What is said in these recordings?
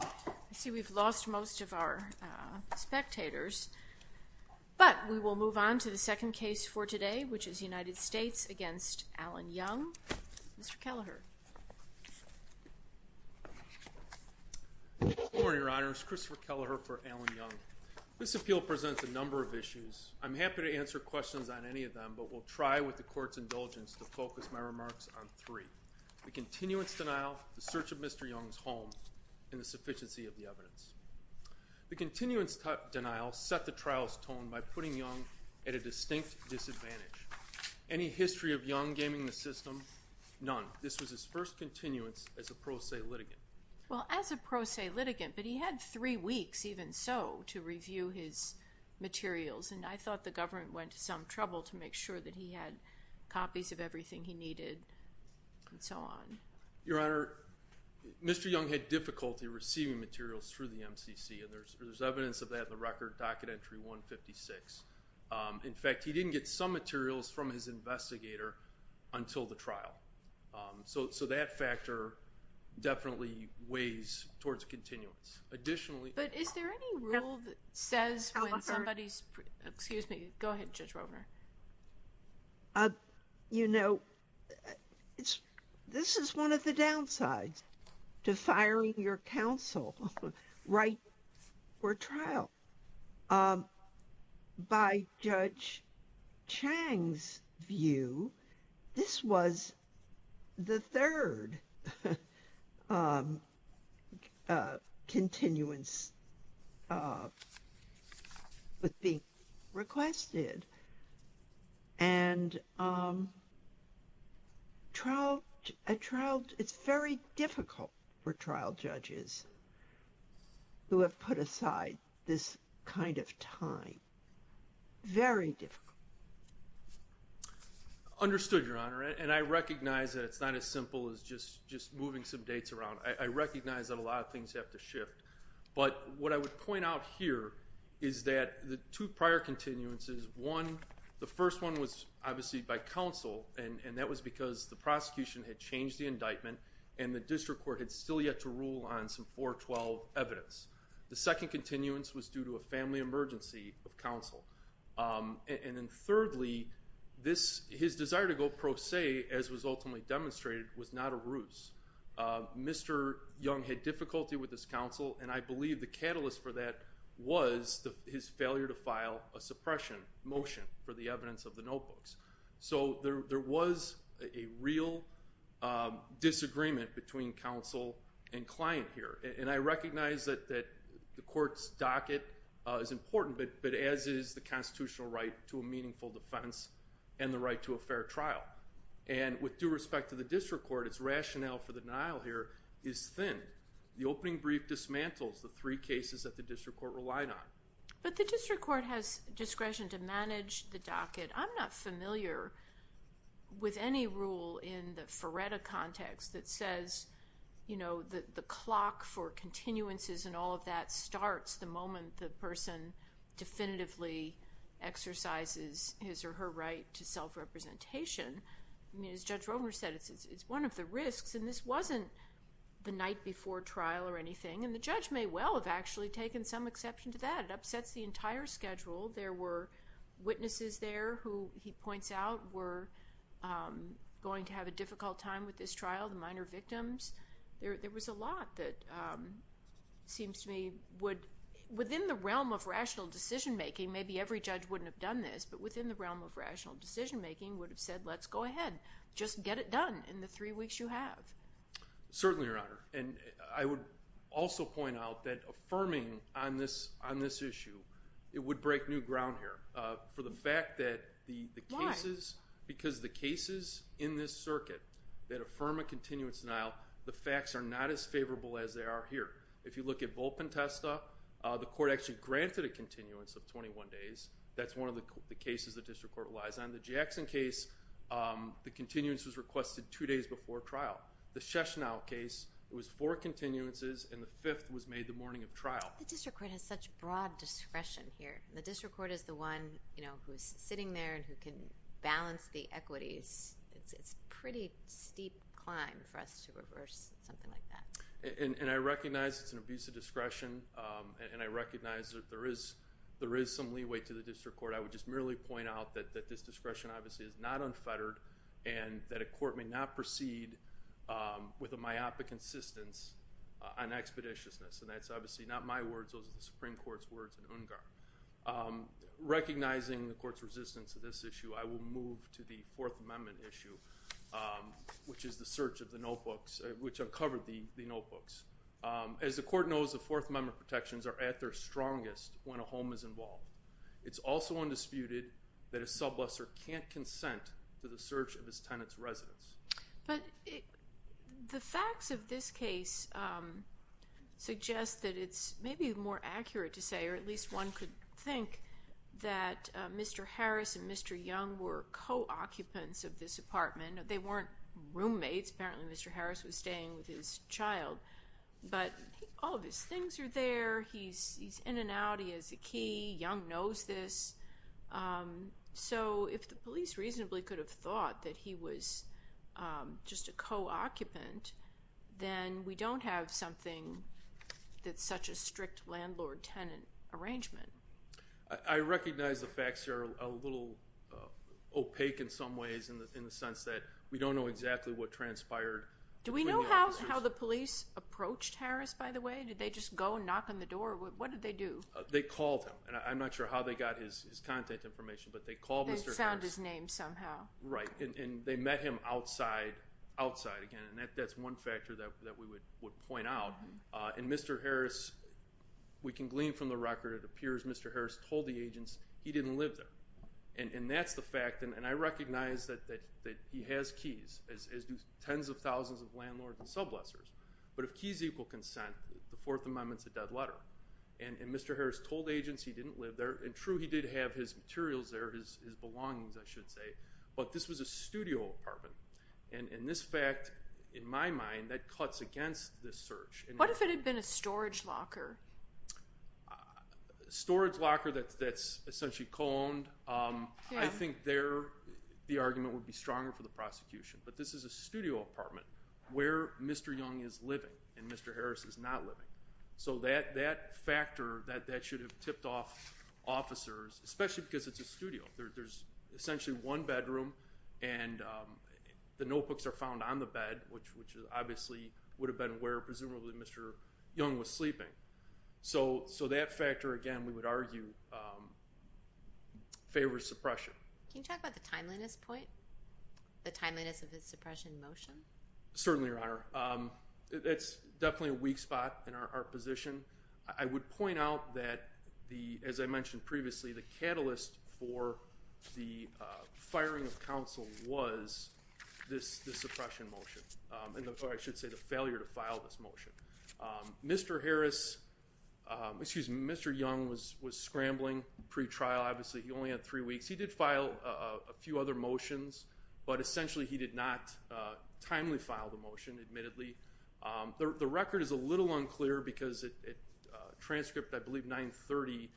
I see we've lost most of our spectators. But we will move on to the second case for today, which is United States v. Allen Young. Mr. Kelleher. Good morning, Your Honors. Christopher Kelleher for Allen Young. This appeal presents a number of issues. I'm happy to answer questions on any of them, but will try, with the Court's indulgence, to focus my remarks on three. The continuance denial, the search of Mr. Young's home, and the sufficiency of the evidence. The continuance denial set the trial's tone by putting Young at a distinct disadvantage. Any history of Young gaming the system? None. This was his first continuance as a pro se litigant. Well, as a pro se litigant, but he had three weeks, even so, to review his materials, and I thought the government went to some trouble to make sure that he had copies of everything he needed, and so on. Your Honor, Mr. Young had difficulty receiving materials through the MCC, and there's evidence of that in the record, docket entry 156. In fact, he didn't get some materials from his investigator until the trial. So that factor definitely weighs towards continuance. But is there any rule that says when somebody's, excuse me, go ahead, Judge Rovner. You know, this is one of the downsides to firing your counsel right before trial. By Judge Chang's view, this was the third continuance with being requested. And a trial, it's very difficult for trial judges who have put aside this kind of time. Very difficult. Understood, Your Honor, and I recognize that it's not as simple as just moving some dates around. I recognize that a lot of things have to shift. But what I would point out here is that the two prior continuances, one, the first one was obviously by counsel, and that was because the prosecution had changed the indictment, and the district court had still yet to rule on some 412 evidence. The second continuance was due to a family emergency of counsel. And then thirdly, his desire to go pro se, as was ultimately demonstrated, was not a ruse. Mr. Young had difficulty with his counsel, and I believe the catalyst for that was his failure to file a suppression motion for the evidence of the notebooks. So there was a real disagreement between counsel and client here. And I recognize that the court's docket is important, but as is the constitutional right to a meaningful defense and the right to a fair trial. And with due respect to the district court, its rationale for the denial here is thin. The opening brief dismantles the three cases that the district court relied on. But the district court has discretion to manage the docket. I'm not familiar with any rule in the Ferretta context that says, you know, the clock for continuances and all of that starts the moment the person definitively exercises his or her right to self-representation. I mean, as Judge Rovner said, it's one of the risks, and this wasn't the night before trial or anything. And the judge may well have actually taken some exception to that. It upsets the entire schedule. There were witnesses there who, he points out, were going to have a difficult time with this trial, the minor victims. There was a lot that seems to me would, within the realm of rational decision-making, maybe every judge wouldn't have done this, but within the realm of rational decision-making would have said, let's go ahead. Just get it done in the three weeks you have. Certainly, Your Honor. And I would also point out that affirming on this issue, it would break new ground here. For the fact that the cases, because the cases in this circuit that affirm a continuance denial, the facts are not as favorable as they are here. If you look at Volpentesta, the court actually granted a continuance of 21 days. That's one of the cases the district court relies on. In the Jackson case, the continuance was requested two days before trial. The Sheshnow case, it was four continuances, and the fifth was made the morning of trial. The district court has such broad discretion here. The district court is the one who is sitting there and who can balance the equities. It's a pretty steep climb for us to reverse something like that. And I recognize it's an abuse of discretion, and I recognize that there is some leeway to the district court. I would just merely point out that this discretion obviously is not unfettered and that a court may not proceed with a myopic insistence on expeditiousness. And that's obviously not my words. Those are the Supreme Court's words in UNGAR. Recognizing the court's resistance to this issue, I will move to the Fourth Amendment issue, which is the search of the notebooks, which uncovered the notebooks. As the court knows, the Fourth Amendment protections are at their strongest when a home is involved. It's also undisputed that a subluxer can't consent to the search of his tenant's residence. But the facts of this case suggest that it's maybe more accurate to say, or at least one could think, that Mr. Harris and Mr. Young were co-occupants of this apartment. They weren't roommates. Apparently Mr. Harris was staying with his child. But all of his things are there. He's in and out. He has a key. Young knows this. So if the police reasonably could have thought that he was just a co-occupant, then we don't have something that's such a strict landlord-tenant arrangement. I recognize the facts are a little opaque in some ways in the sense that we don't know exactly what transpired. Do we know how the police approached Harris, by the way? Did they just go and knock on the door? What did they do? They called him. And I'm not sure how they got his contact information, but they called Mr. Harris. They found his name somehow. Right. And they met him outside again. And that's one factor that we would point out. And Mr. Harris, we can glean from the record, it appears Mr. Harris told the agents he didn't live there. And that's the fact. And I recognize that he has keys, as do tens of thousands of landlords and subluxers. But if keys equal consent, the Fourth Amendment's a dead letter. And Mr. Harris told agents he didn't live there. And true, he did have his materials there, his belongings, I should say. But this was a studio apartment. And this fact, in my mind, that cuts against this search. What if it had been a storage locker? A storage locker that's essentially co-owned. I think there the argument would be stronger for the prosecution. But this is a studio apartment where Mr. Young is living and Mr. Harris is not living. So that factor, that should have tipped off officers, especially because it's a studio. There's essentially one bedroom and the notebooks are found on the bed, which obviously would have been where presumably Mr. Young was sleeping. So that factor, again, we would argue favors suppression. Can you talk about the timeliness point? The timeliness of his suppression motion? Certainly, Your Honor. It's definitely a weak spot in our position. I would point out that, as I mentioned previously, the catalyst for the firing of counsel was this suppression motion, or I should say the failure to file this motion. Mr. Harris, excuse me, Mr. Young was scrambling pre-trial. Obviously he only had three weeks. He did file a few other motions, but essentially he did not timely file the motion, admittedly. The record is a little unclear because at transcript, I believe, 930,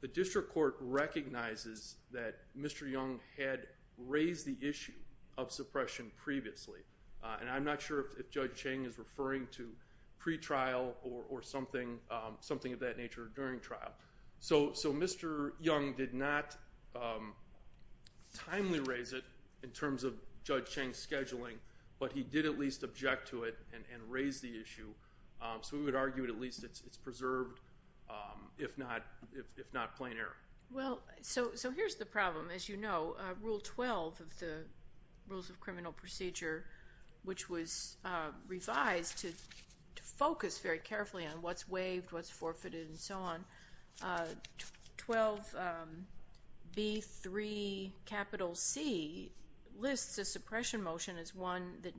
the district court recognizes that Mr. Young had raised the issue of suppression previously. And I'm not sure if Judge Chang is referring to pre-trial or something of that nature during trial. So Mr. Young did not timely raise it in terms of Judge Chang's scheduling, but he did at least object to it and raise the issue. So we would argue at least it's preserved, if not plain error. Well, so here's the problem. As you know, Rule 12 of the Rules of Criminal Procedure, which was revised to focus very carefully on what's waived, what's forfeited, and so on, 12B3C lists a suppression motion as one that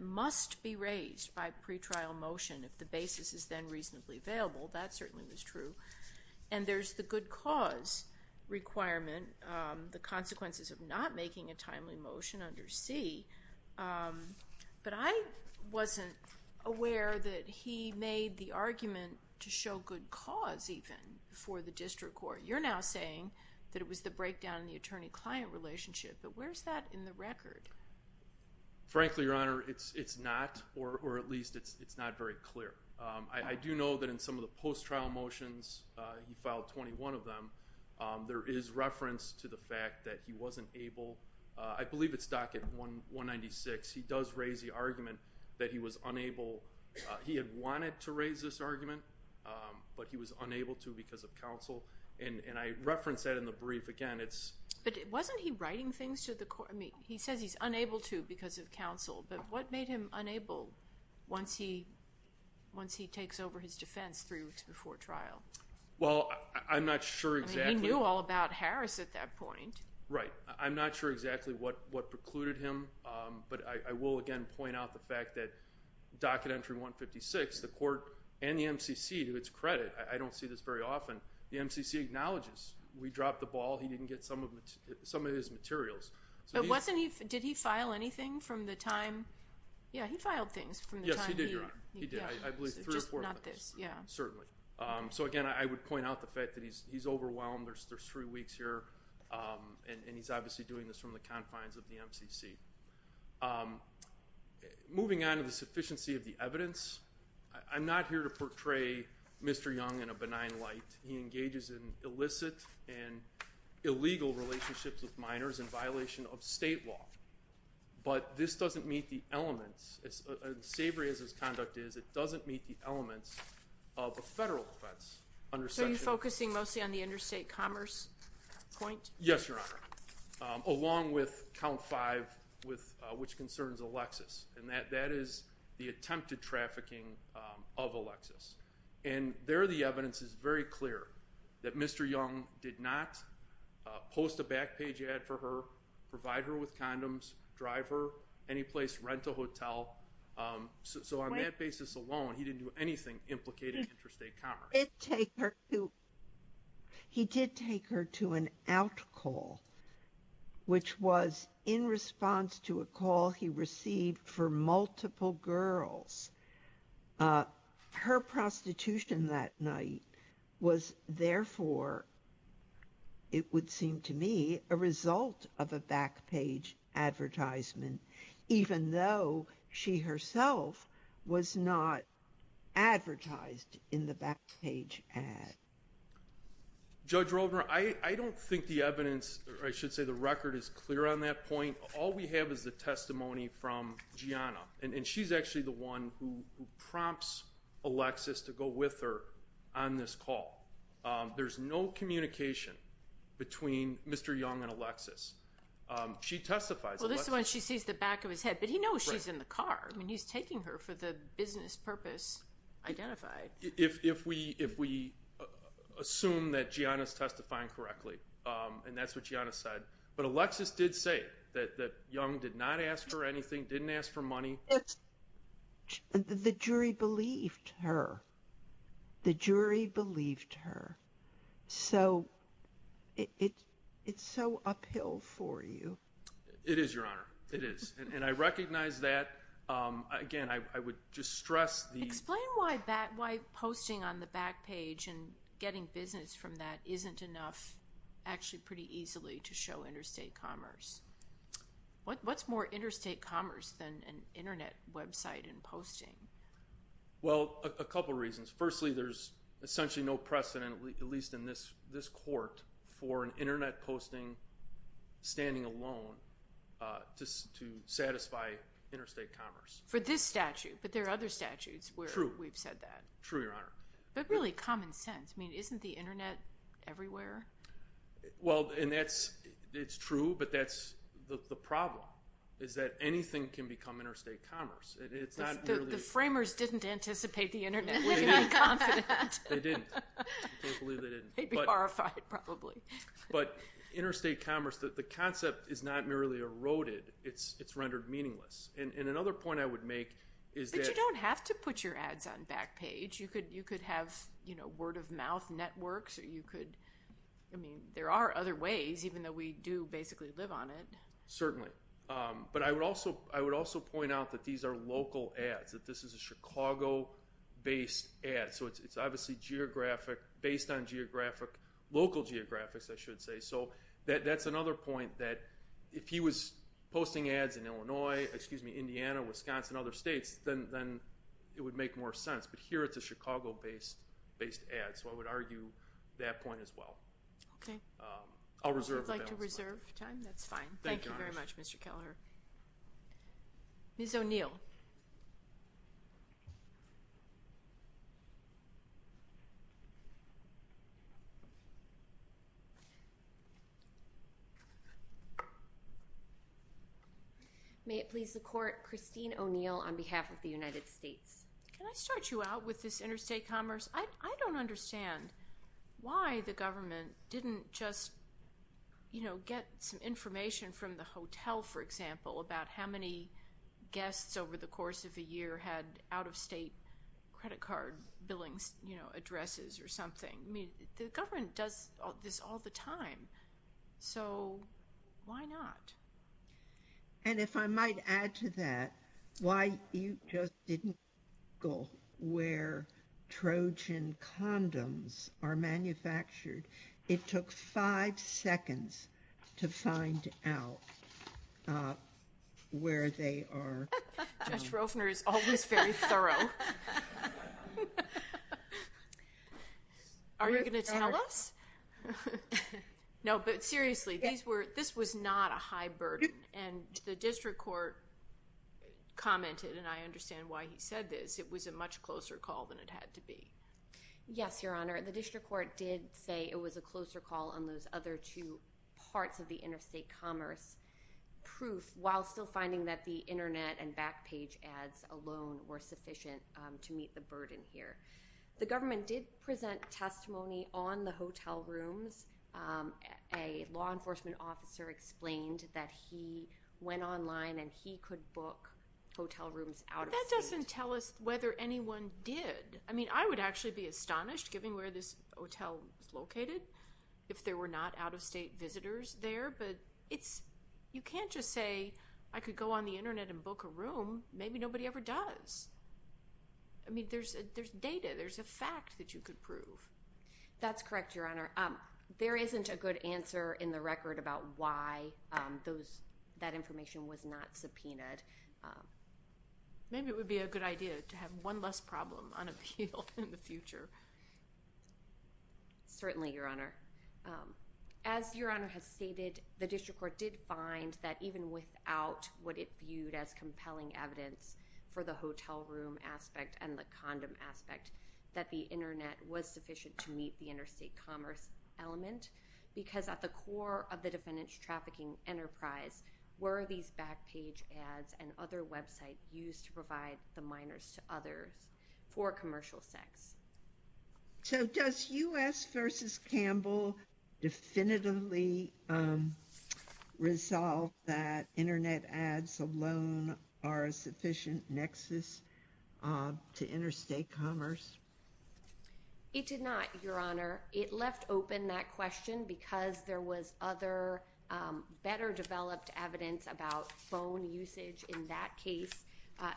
must be raised by pre-trial motion if the basis is then reasonably available. That certainly was true. And there's the good cause requirement, the consequences of not making a timely motion under C. But I wasn't aware that he made the argument to show good cause even for the district court. You're now saying that it was the breakdown in the attorney-client relationship. But where's that in the record? Frankly, Your Honor, it's not, or at least it's not very clear. I do know that in some of the post-trial motions, he filed 21 of them, there is reference to the fact that he wasn't able. I believe it's docket 196. He does raise the argument that he was unable. He had wanted to raise this argument, but he was unable to because of counsel. And I reference that in the brief again. But wasn't he writing things to the court? I mean, he says he's unable to because of counsel. But what made him unable once he takes over his defense three weeks before trial? Well, I'm not sure exactly. I mean, he knew all about Harris at that point. Right. I'm not sure exactly what precluded him, but I will again point out the fact that docket entry 156, the court and the MCC to its credit, I don't see this very often, the MCC acknowledges. We dropped the ball. He didn't get some of his materials. But did he file anything from the time? Yeah, he filed things from the time. Yes, he did, Your Honor. He did, I believe three or four months. Just not this, yeah. Certainly. So, again, I would point out the fact that he's overwhelmed. There's three weeks here, and he's obviously doing this from the confines of the MCC. Moving on to the sufficiency of the evidence, I'm not here to portray Mr. Young in a benign light. He engages in illicit and illegal relationships with minors in violation of state law. But this doesn't meet the elements. Savory as his conduct is, it doesn't meet the elements of a federal defense. So you're focusing mostly on the interstate commerce point? Yes, Your Honor, along with count five, which concerns Alexis. And that is the attempted trafficking of Alexis. And there the evidence is very clear that Mr. Young did not post a back page ad for her, provide her with condoms, drive her anyplace, rent a hotel. So on that basis alone, he didn't do anything implicating interstate commerce. He did take her to an out call, which was in response to a call he received for multiple girls. Her prostitution that night was therefore, it would seem to me, a result of a back page advertisement, even though she herself was not advertised in the back page ad. Judge Roldner, I don't think the evidence, or I should say the record is clear on that point. All we have is the testimony from Gianna. And she's actually the one who prompts Alexis to go with her on this call. There's no communication between Mr. Young and Alexis. She testifies. Well, this is when she sees the back of his head, but he knows she's in the car. I mean, he's taking her for the business purpose identified. If we assume that Gianna's testifying correctly, and that's what Gianna said. But Alexis did say that Young did not ask for anything, didn't ask for money. The jury believed her. The jury believed her. So it's so uphill for you. It is, Your Honor. It is. And I recognize that. Again, I would just stress the – getting business from that isn't enough, actually pretty easily, to show interstate commerce. What's more interstate commerce than an Internet website and posting? Well, a couple reasons. Firstly, there's essentially no precedent, at least in this court, for an Internet posting standing alone to satisfy interstate commerce. For this statute. But there are other statutes where we've said that. True. True, Your Honor. But really common sense. I mean, isn't the Internet everywhere? Well, and that's true, but that's the problem, is that anything can become interstate commerce. The framers didn't anticipate the Internet. We can be confident. They didn't. I can't believe they didn't. They'd be horrified, probably. But interstate commerce, the concept is not merely eroded. It's rendered meaningless. And another point I would make is that – But you don't have to put your ads on Backpage. You could have, you know, word-of-mouth networks. You could – I mean, there are other ways, even though we do basically live on it. Certainly. But I would also point out that these are local ads, that this is a Chicago-based ad. So it's obviously geographic, based on geographic, local geographics, I should say. So that's another point, that if he was posting ads in Illinois, excuse me, Indiana, Wisconsin, other states, then it would make more sense. But here it's a Chicago-based ad. So I would argue that point as well. Okay. I'll reserve the balance. If you'd like to reserve time, that's fine. Thank you very much, Mr. Kelleher. Ms. O'Neill. May it please the Court, Christine O'Neill on behalf of the United States. Can I start you out with this interstate commerce? I don't understand why the government didn't just, you know, get some information from the hotel, for example, about how many guests over the course of a year had out-of-state credit card billing, you know, addresses or something. I mean, the government does this all the time. So why not? And if I might add to that, why you just didn't go where Trojan condoms are manufactured. It took five seconds to find out where they are. Judge Rofner is always very thorough. Are you going to tell us? No, but seriously, this was not a high burden. And the district court commented, and I understand why he said this, it was a much closer call than it had to be. Yes, Your Honor. The district court did say it was a closer call on those other two parts of the interstate commerce proof, while still finding that the Internet and back page ads alone were sufficient to meet the burden here. The government did present testimony on the hotel rooms. A law enforcement officer explained that he went online and he could book hotel rooms out of state. That doesn't tell us whether anyone did. I mean, I would actually be astonished, given where this hotel is located, if there were not out-of-state visitors there. But you can't just say, I could go on the Internet and book a room. Maybe nobody ever does. I mean, there's data. There's a fact that you could prove. That's correct, Your Honor. There isn't a good answer in the record about why that information was not subpoenaed. Maybe it would be a good idea to have one less problem unappealed in the future. Certainly, Your Honor. As Your Honor has stated, the district court did find that even without what it viewed as compelling evidence for the hotel room aspect and the condom aspect, that the Internet was sufficient to meet the interstate commerce element, because at the core of the defendant's trafficking enterprise were these back page ads and other websites used to provide the minors to others for commercial sex. So does U.S. v. Campbell definitively resolve that Internet ads alone are a sufficient nexus to interstate commerce? It did not, Your Honor. It left open that question because there was other, better developed evidence about phone usage in that case.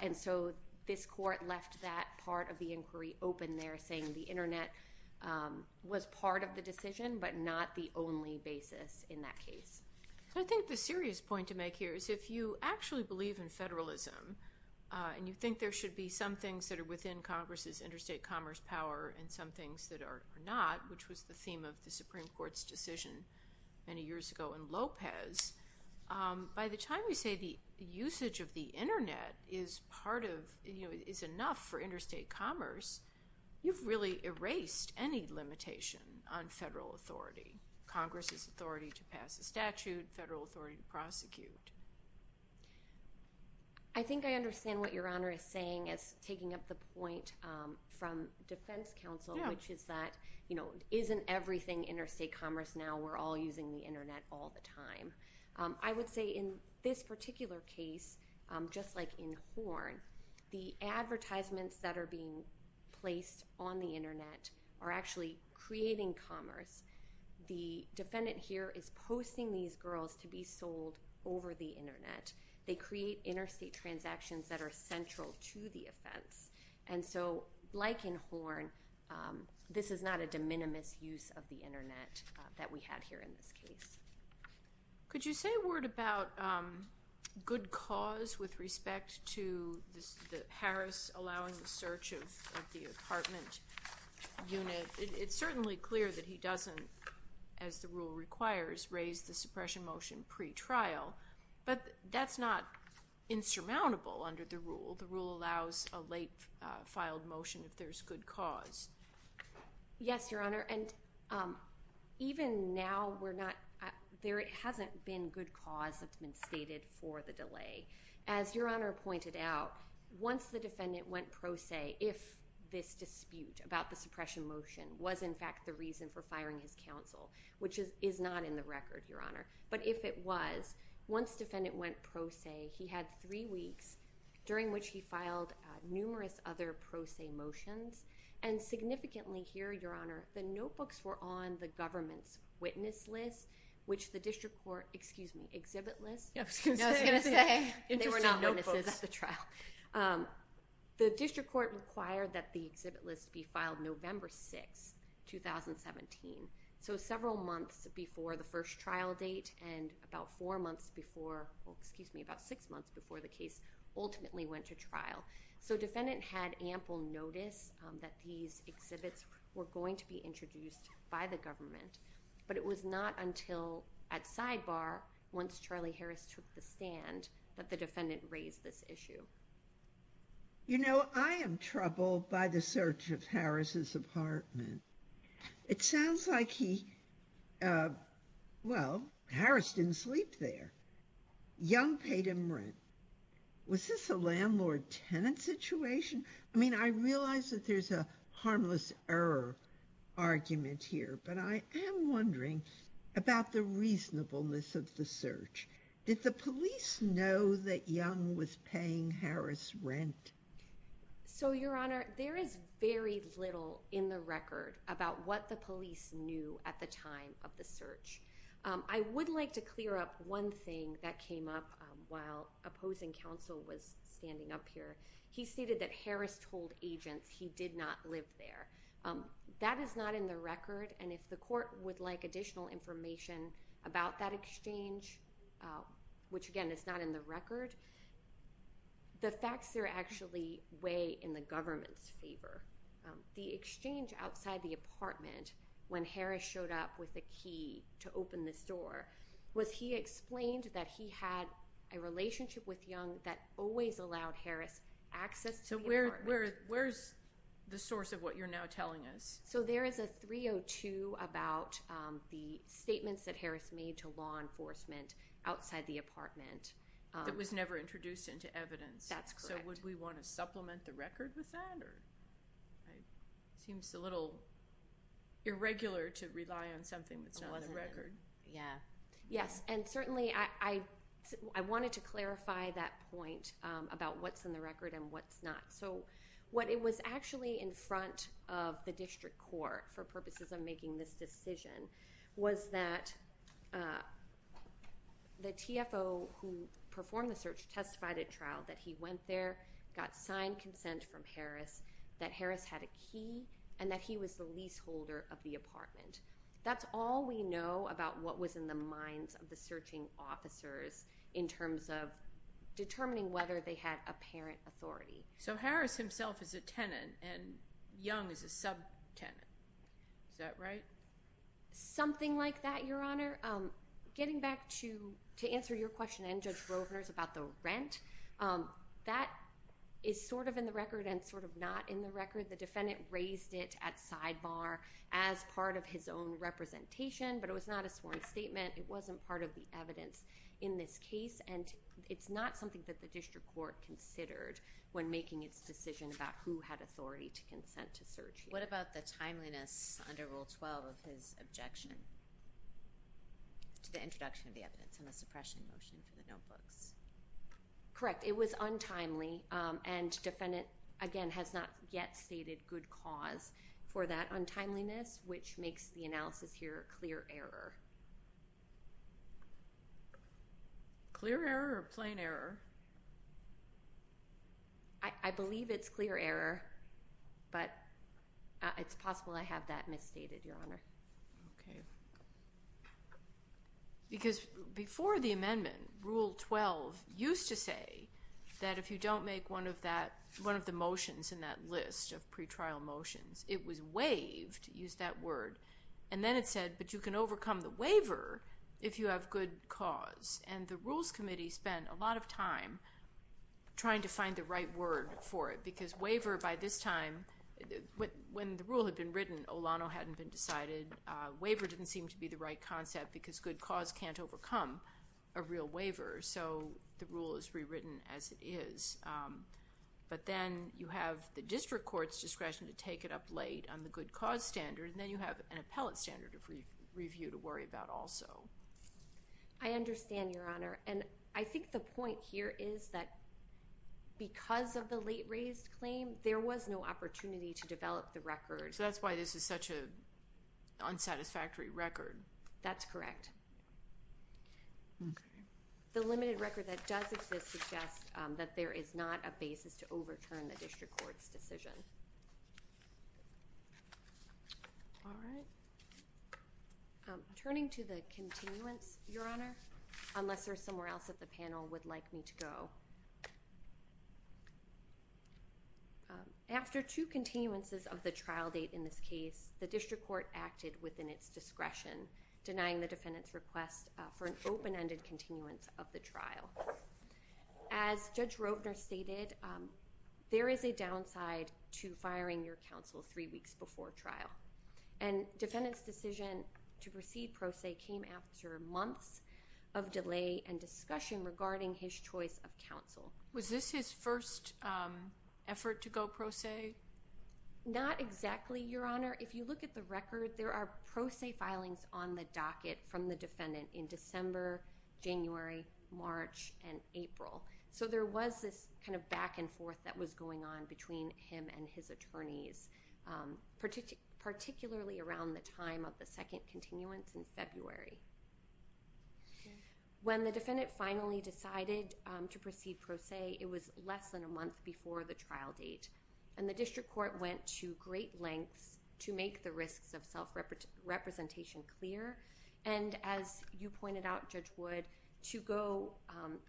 And so this court left that part of the inquiry open there, saying the Internet was part of the decision, but not the only basis in that case. I think the serious point to make here is if you actually believe in federalism and you think there should be some things that are within Congress's interstate commerce power and some things that are not, which was the theme of the Supreme Court's decision many years ago in Lopez, by the time we say the usage of the Internet is enough for interstate commerce, you've really erased any limitation on federal authority, Congress's authority to pass a statute, federal authority to prosecute. I think I understand what Your Honor is saying as taking up the point from defense counsel, which is that isn't everything interstate commerce now? We're all using the Internet all the time. I would say in this particular case, just like in Horn, the advertisements that are being placed on the Internet are actually creating commerce. The defendant here is posting these girls to be sold over the Internet. They create interstate transactions that are central to the offense. And so like in Horn, this is not a de minimis use of the Internet that we had here in this case. Could you say a word about good cause with respect to Harris allowing the search of the apartment unit? It's certainly clear that he doesn't, as the rule requires, raise the suppression motion pre-trial, but that's not insurmountable under the rule. The rule allows a late filed motion if there's good cause. Yes, Your Honor. And even now, there hasn't been good cause that's been stated for the delay. As Your Honor pointed out, once the defendant went pro se, if this dispute about the suppression motion was in fact the reason for firing his counsel, which is not in the record, Your Honor, but if it was, once defendant went pro se, he had three weeks during which he filed numerous other pro se motions. And significantly here, Your Honor, the notebooks were on the government's witness list, which the district court—excuse me, exhibit list. I was going to say. They were not witnesses at the trial. The district court required that the exhibit list be filed November 6, 2017, so several months before the first trial date and about four months before—excuse me, about six months before the case ultimately went to trial. So defendant had ample notice that these exhibits were going to be introduced by the government, but it was not until at sidebar, once Charlie Harris took the stand, that the defendant raised this issue. You know, I am troubled by the search of Harris' apartment. It sounds like he—well, Harris didn't sleep there. Young paid him rent. Was this a landlord-tenant situation? I mean, I realize that there's a harmless error argument here, but I am wondering about the reasonableness of the search. Did the police know that Young was paying Harris rent? So, Your Honor, there is very little in the record about what the police knew at the time of the search. I would like to clear up one thing that came up while opposing counsel was standing up here. He stated that Harris told agents he did not live there. That is not in the record, and if the court would like additional information about that exchange, the facts there actually weigh in the government's favor. The exchange outside the apartment, when Harris showed up with a key to open this door, was he explained that he had a relationship with Young that always allowed Harris access to the apartment. So where's the source of what you're now telling us? So there is a 302 about the statements that Harris made to law enforcement outside the apartment. It was never introduced into evidence. That's correct. So would we want to supplement the record with that? It seems a little irregular to rely on something that's not in the record. Yeah. Yes, and certainly I wanted to clarify that point about what's in the record and what's not. So what it was actually in front of the district court for purposes of making this decision was that the TFO who performed the search testified at trial that he went there, got signed consent from Harris, that Harris had a key, and that he was the leaseholder of the apartment. That's all we know about what was in the minds of the searching officers in terms of determining whether they had apparent authority. So Harris himself is a tenant, and Young is a subtenant. Is that right? Something like that, Your Honor. Getting back to answer your question and Judge Rovner's about the rent, that is sort of in the record and sort of not in the record. The defendant raised it at sidebar as part of his own representation, but it was not a sworn statement. It wasn't part of the evidence in this case, and it's not something that the district court considered when making its decision about who had authority to consent to search. What about the timeliness under Rule 12 of his objection to the introduction of the evidence and the suppression motion for the notebooks? Correct. It was untimely, and defendant, again, has not yet stated good cause for that untimeliness, which makes the analysis here clear error. Clear error or plain error? I believe it's clear error, but it's possible I have that misstated, Your Honor. Okay. Because before the amendment, Rule 12 used to say that if you don't make one of the motions in that list of pretrial motions, it was waived, used that word, and then it said, but you can overcome the waiver if you have good cause, and the Rules Committee spent a lot of time trying to find the right word for it, because waiver by this time, when the rule had been written, Olano hadn't been decided. Waiver didn't seem to be the right concept because good cause can't overcome a real waiver, so the rule is rewritten as it is. But then you have the district court's discretion to take it up late on the good cause standard, and then you have an appellate standard of review to worry about also. I understand, Your Honor, and I think the point here is that because of the late-raised claim, there was no opportunity to develop the record. So that's why this is such an unsatisfactory record. That's correct. The limited record that does exist suggests that there is not a basis to overturn the district court's decision. All right. Turning to the continuance, Your Honor, unless there's somewhere else that the panel would like me to go. After two continuances of the trial date in this case, the district court acted within its discretion, denying the defendant's request for an open-ended continuance of the trial. As Judge Rovner stated, there is a downside to firing your counsel three weeks before trial, and defendant's decision to proceed pro se came after months of delay and discussion regarding his choice of counsel. Was this his first effort to go pro se? Not exactly, Your Honor. If you look at the record, there are pro se filings on the docket from the defendant in December, January, March, and April. So there was this kind of back and forth that was going on between him and his attorneys, particularly around the time of the second continuance in February. When the defendant finally decided to proceed pro se, it was less than a month before the trial date, and the district court went to great lengths to make the risks of self-representation clear and, as you pointed out, Judge Wood, to go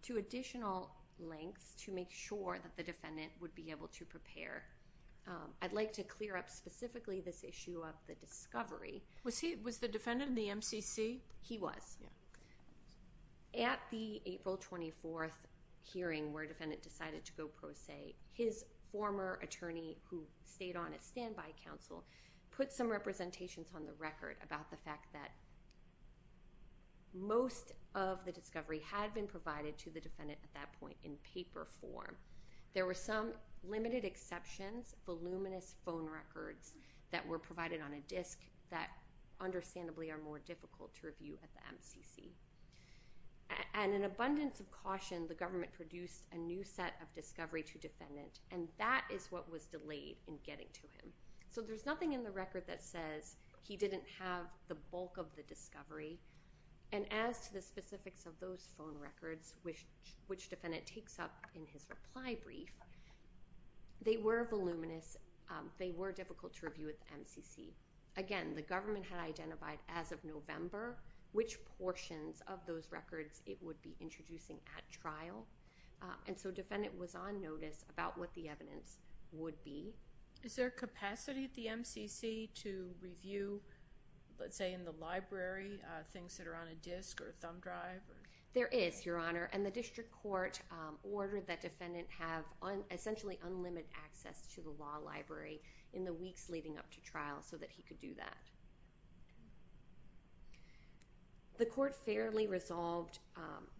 to additional lengths to make sure that the defendant would be able to prepare. I'd like to clear up specifically this issue of the discovery. Was the defendant in the MCC? He was. At the April 24th hearing where defendant decided to go pro se, his former attorney, who stayed on as standby counsel, put some representations on the record about the fact that most of the discovery had been provided to the defendant at that point in paper form. There were some limited exceptions, voluminous phone records that were provided on a disc that understandably are more difficult to review at the MCC. And in abundance of caution, the government produced a new set of discovery to defendant, and that is what was delayed in getting to him. So there's nothing in the record that says he didn't have the bulk of the discovery, and as to the specifics of those phone records, which defendant takes up in his reply brief, they were voluminous. They were difficult to review at the MCC. Again, the government had identified as of November which portions of those records it would be introducing at trial, and so defendant was on notice about what the evidence would be. Is there a capacity at the MCC to review, let's say, in the library, things that are on a disc or a thumb drive? There is, Your Honor, and the district court ordered that defendant have essentially unlimited access to the law library in the weeks leading up to trial so that he could do that. The court fairly resolved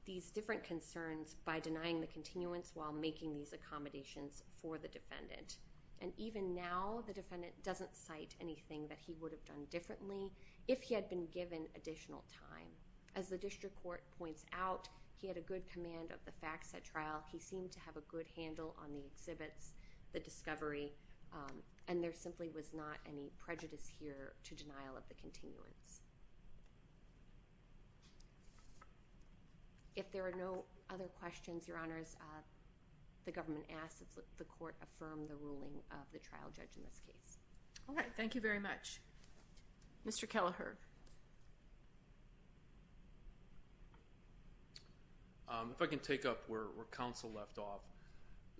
these different concerns by denying the continuance while making these accommodations for the defendant, and even now the defendant doesn't cite anything that he would have done differently if he had been given additional time. As the district court points out, he had a good command of the facts at trial. He seemed to have a good handle on the exhibits, the discovery, and there simply was not any prejudice here to denial of the continuance. If there are no other questions, Your Honors, the government asks that the court affirm the ruling of the trial judge in this case. All right. Thank you very much. Mr. Kelleher. Thank you, Your Honor. If I can take up where counsel left off,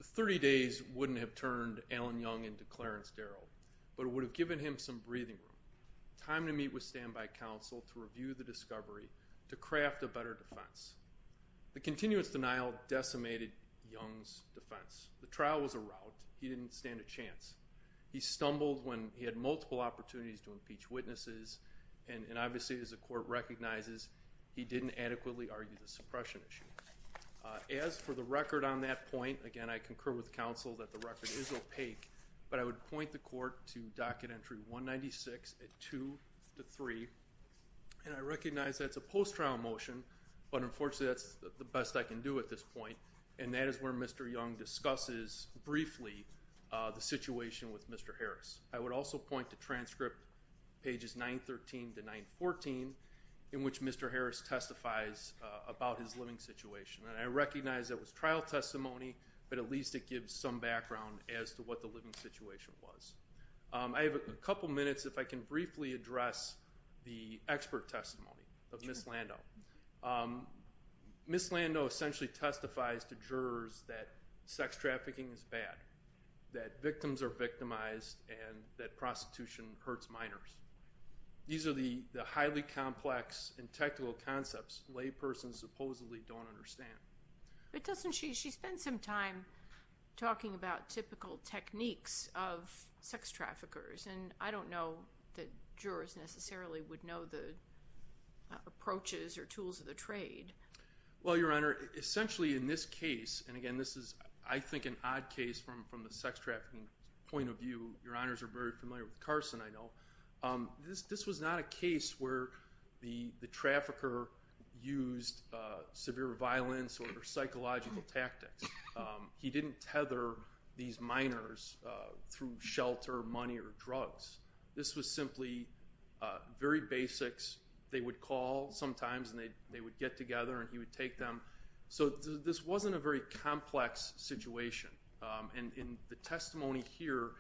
30 days wouldn't have turned Alan Young into Clarence Darrell, but it would have given him some breathing room, time to meet with standby counsel to review the discovery, to craft a better defense. The continuance denial decimated Young's defense. The trial was a rout. He didn't stand a chance. He stumbled when he had multiple opportunities to impeach witnesses, and obviously as the court recognizes, he didn't adequately argue the suppression issue. As for the record on that point, again, I concur with counsel that the record is opaque, but I would point the court to docket entry 196 at 2 to 3, and I recognize that's a post-trial motion, but unfortunately that's the best I can do at this point, and that is where Mr. Young discusses briefly the situation with Mr. Harris. I would also point to transcript pages 913 to 914, in which Mr. Harris testifies about his living situation, and I recognize that was trial testimony, but at least it gives some background as to what the living situation was. I have a couple minutes, if I can briefly address the expert testimony of Ms. Lando. Ms. Lando essentially testifies to jurors that sex trafficking is bad, that victims are victimized, and that prostitution hurts minors. These are the highly complex and technical concepts laypersons supposedly don't understand. But doesn't she spend some time talking about typical techniques of sex traffickers, and I don't know that jurors necessarily would know the approaches or tools of the trade. Well, Your Honor, essentially in this case, and again this is I think an odd case from the sex trafficking point of view. Your Honors are very familiar with Carson, I know. This was not a case where the trafficker used severe violence or psychological tactics. He didn't tether these minors through shelter, money, or drugs. This was simply very basics. They would call sometimes, and they would get together, and he would take them. So this wasn't a very complex situation, and the testimony here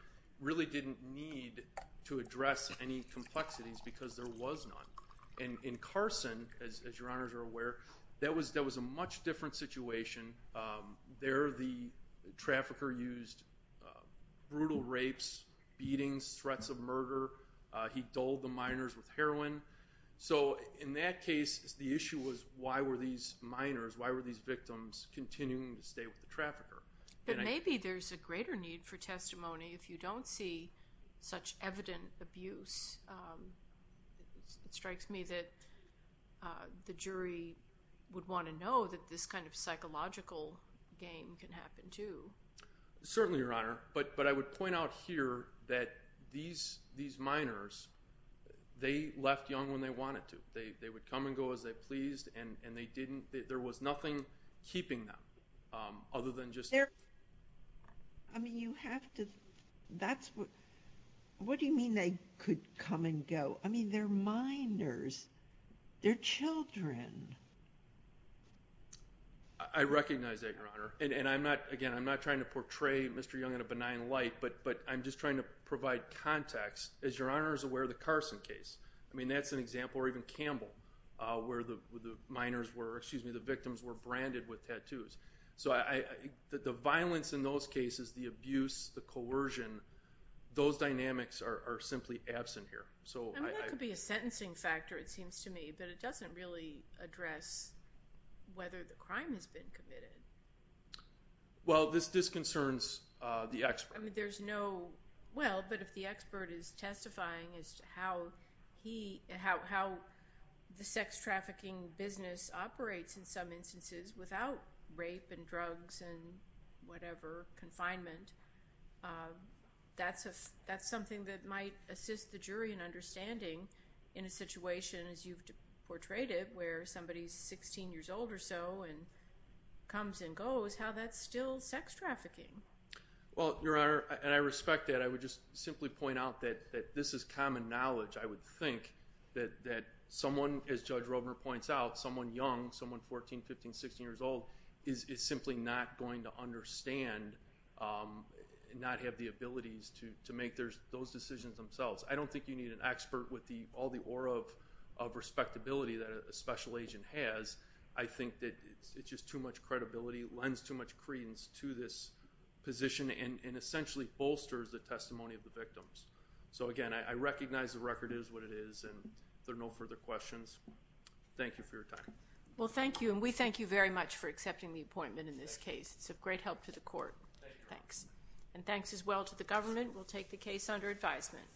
really didn't need to address any complexities because there was none. In Carson, as Your Honors are aware, that was a much different situation. There the trafficker used brutal rapes, beatings, threats of murder. He dulled the minors with heroin. So in that case, the issue was why were these minors, why were these victims continuing to stay with the trafficker? But maybe there's a greater need for testimony if you don't see such evident abuse. It strikes me that the jury would want to know that this kind of psychological game can happen too. Certainly, Your Honor, but I would point out here that these minors, they left young when they wanted to. They would come and go as they pleased, and there was nothing keeping them other than just abuse. I mean, you have to, that's what, what do you mean they could come and go? I mean, they're minors. They're children. I recognize that, Your Honor. And I'm not, again, I'm not trying to portray Mr. Young in a benign light, but I'm just trying to provide context. As Your Honors are aware, the Carson case, I mean, that's an example, or even Campbell where the minors were, excuse me, the victims were branded with tattoos. So the violence in those cases, the abuse, the coercion, those dynamics are simply absent here. I mean, that could be a sentencing factor, it seems to me, but it doesn't really address whether the crime has been committed. Well, this disconcerns the expert. I mean, there's no, well, but if the expert is testifying as to how he, how the sex trafficking business operates in some instances without rape and drugs and whatever, confinement, that's something that might assist the jury in understanding in a situation, as you've portrayed it, where somebody's 16 years old or so and comes and goes, how that's still sex trafficking. Well, Your Honor, and I respect that. I would just simply point out that this is common knowledge, I would think, that someone, as Judge Rovner points out, someone young, someone 14, 15, 16 years old, is simply not going to understand, not have the abilities to make those decisions themselves. I don't think you need an expert with all the aura of respectability that a special agent has. I think that it's just too much credibility, lends too much credence to this position and essentially bolsters the testimony of the victims. So, again, I recognize the record is what it is, and there are no further questions. Thank you for your time. Well, thank you, and we thank you very much for accepting the appointment in this case. It's of great help to the court. Thanks. And thanks as well to the government. We'll take the case under advisement.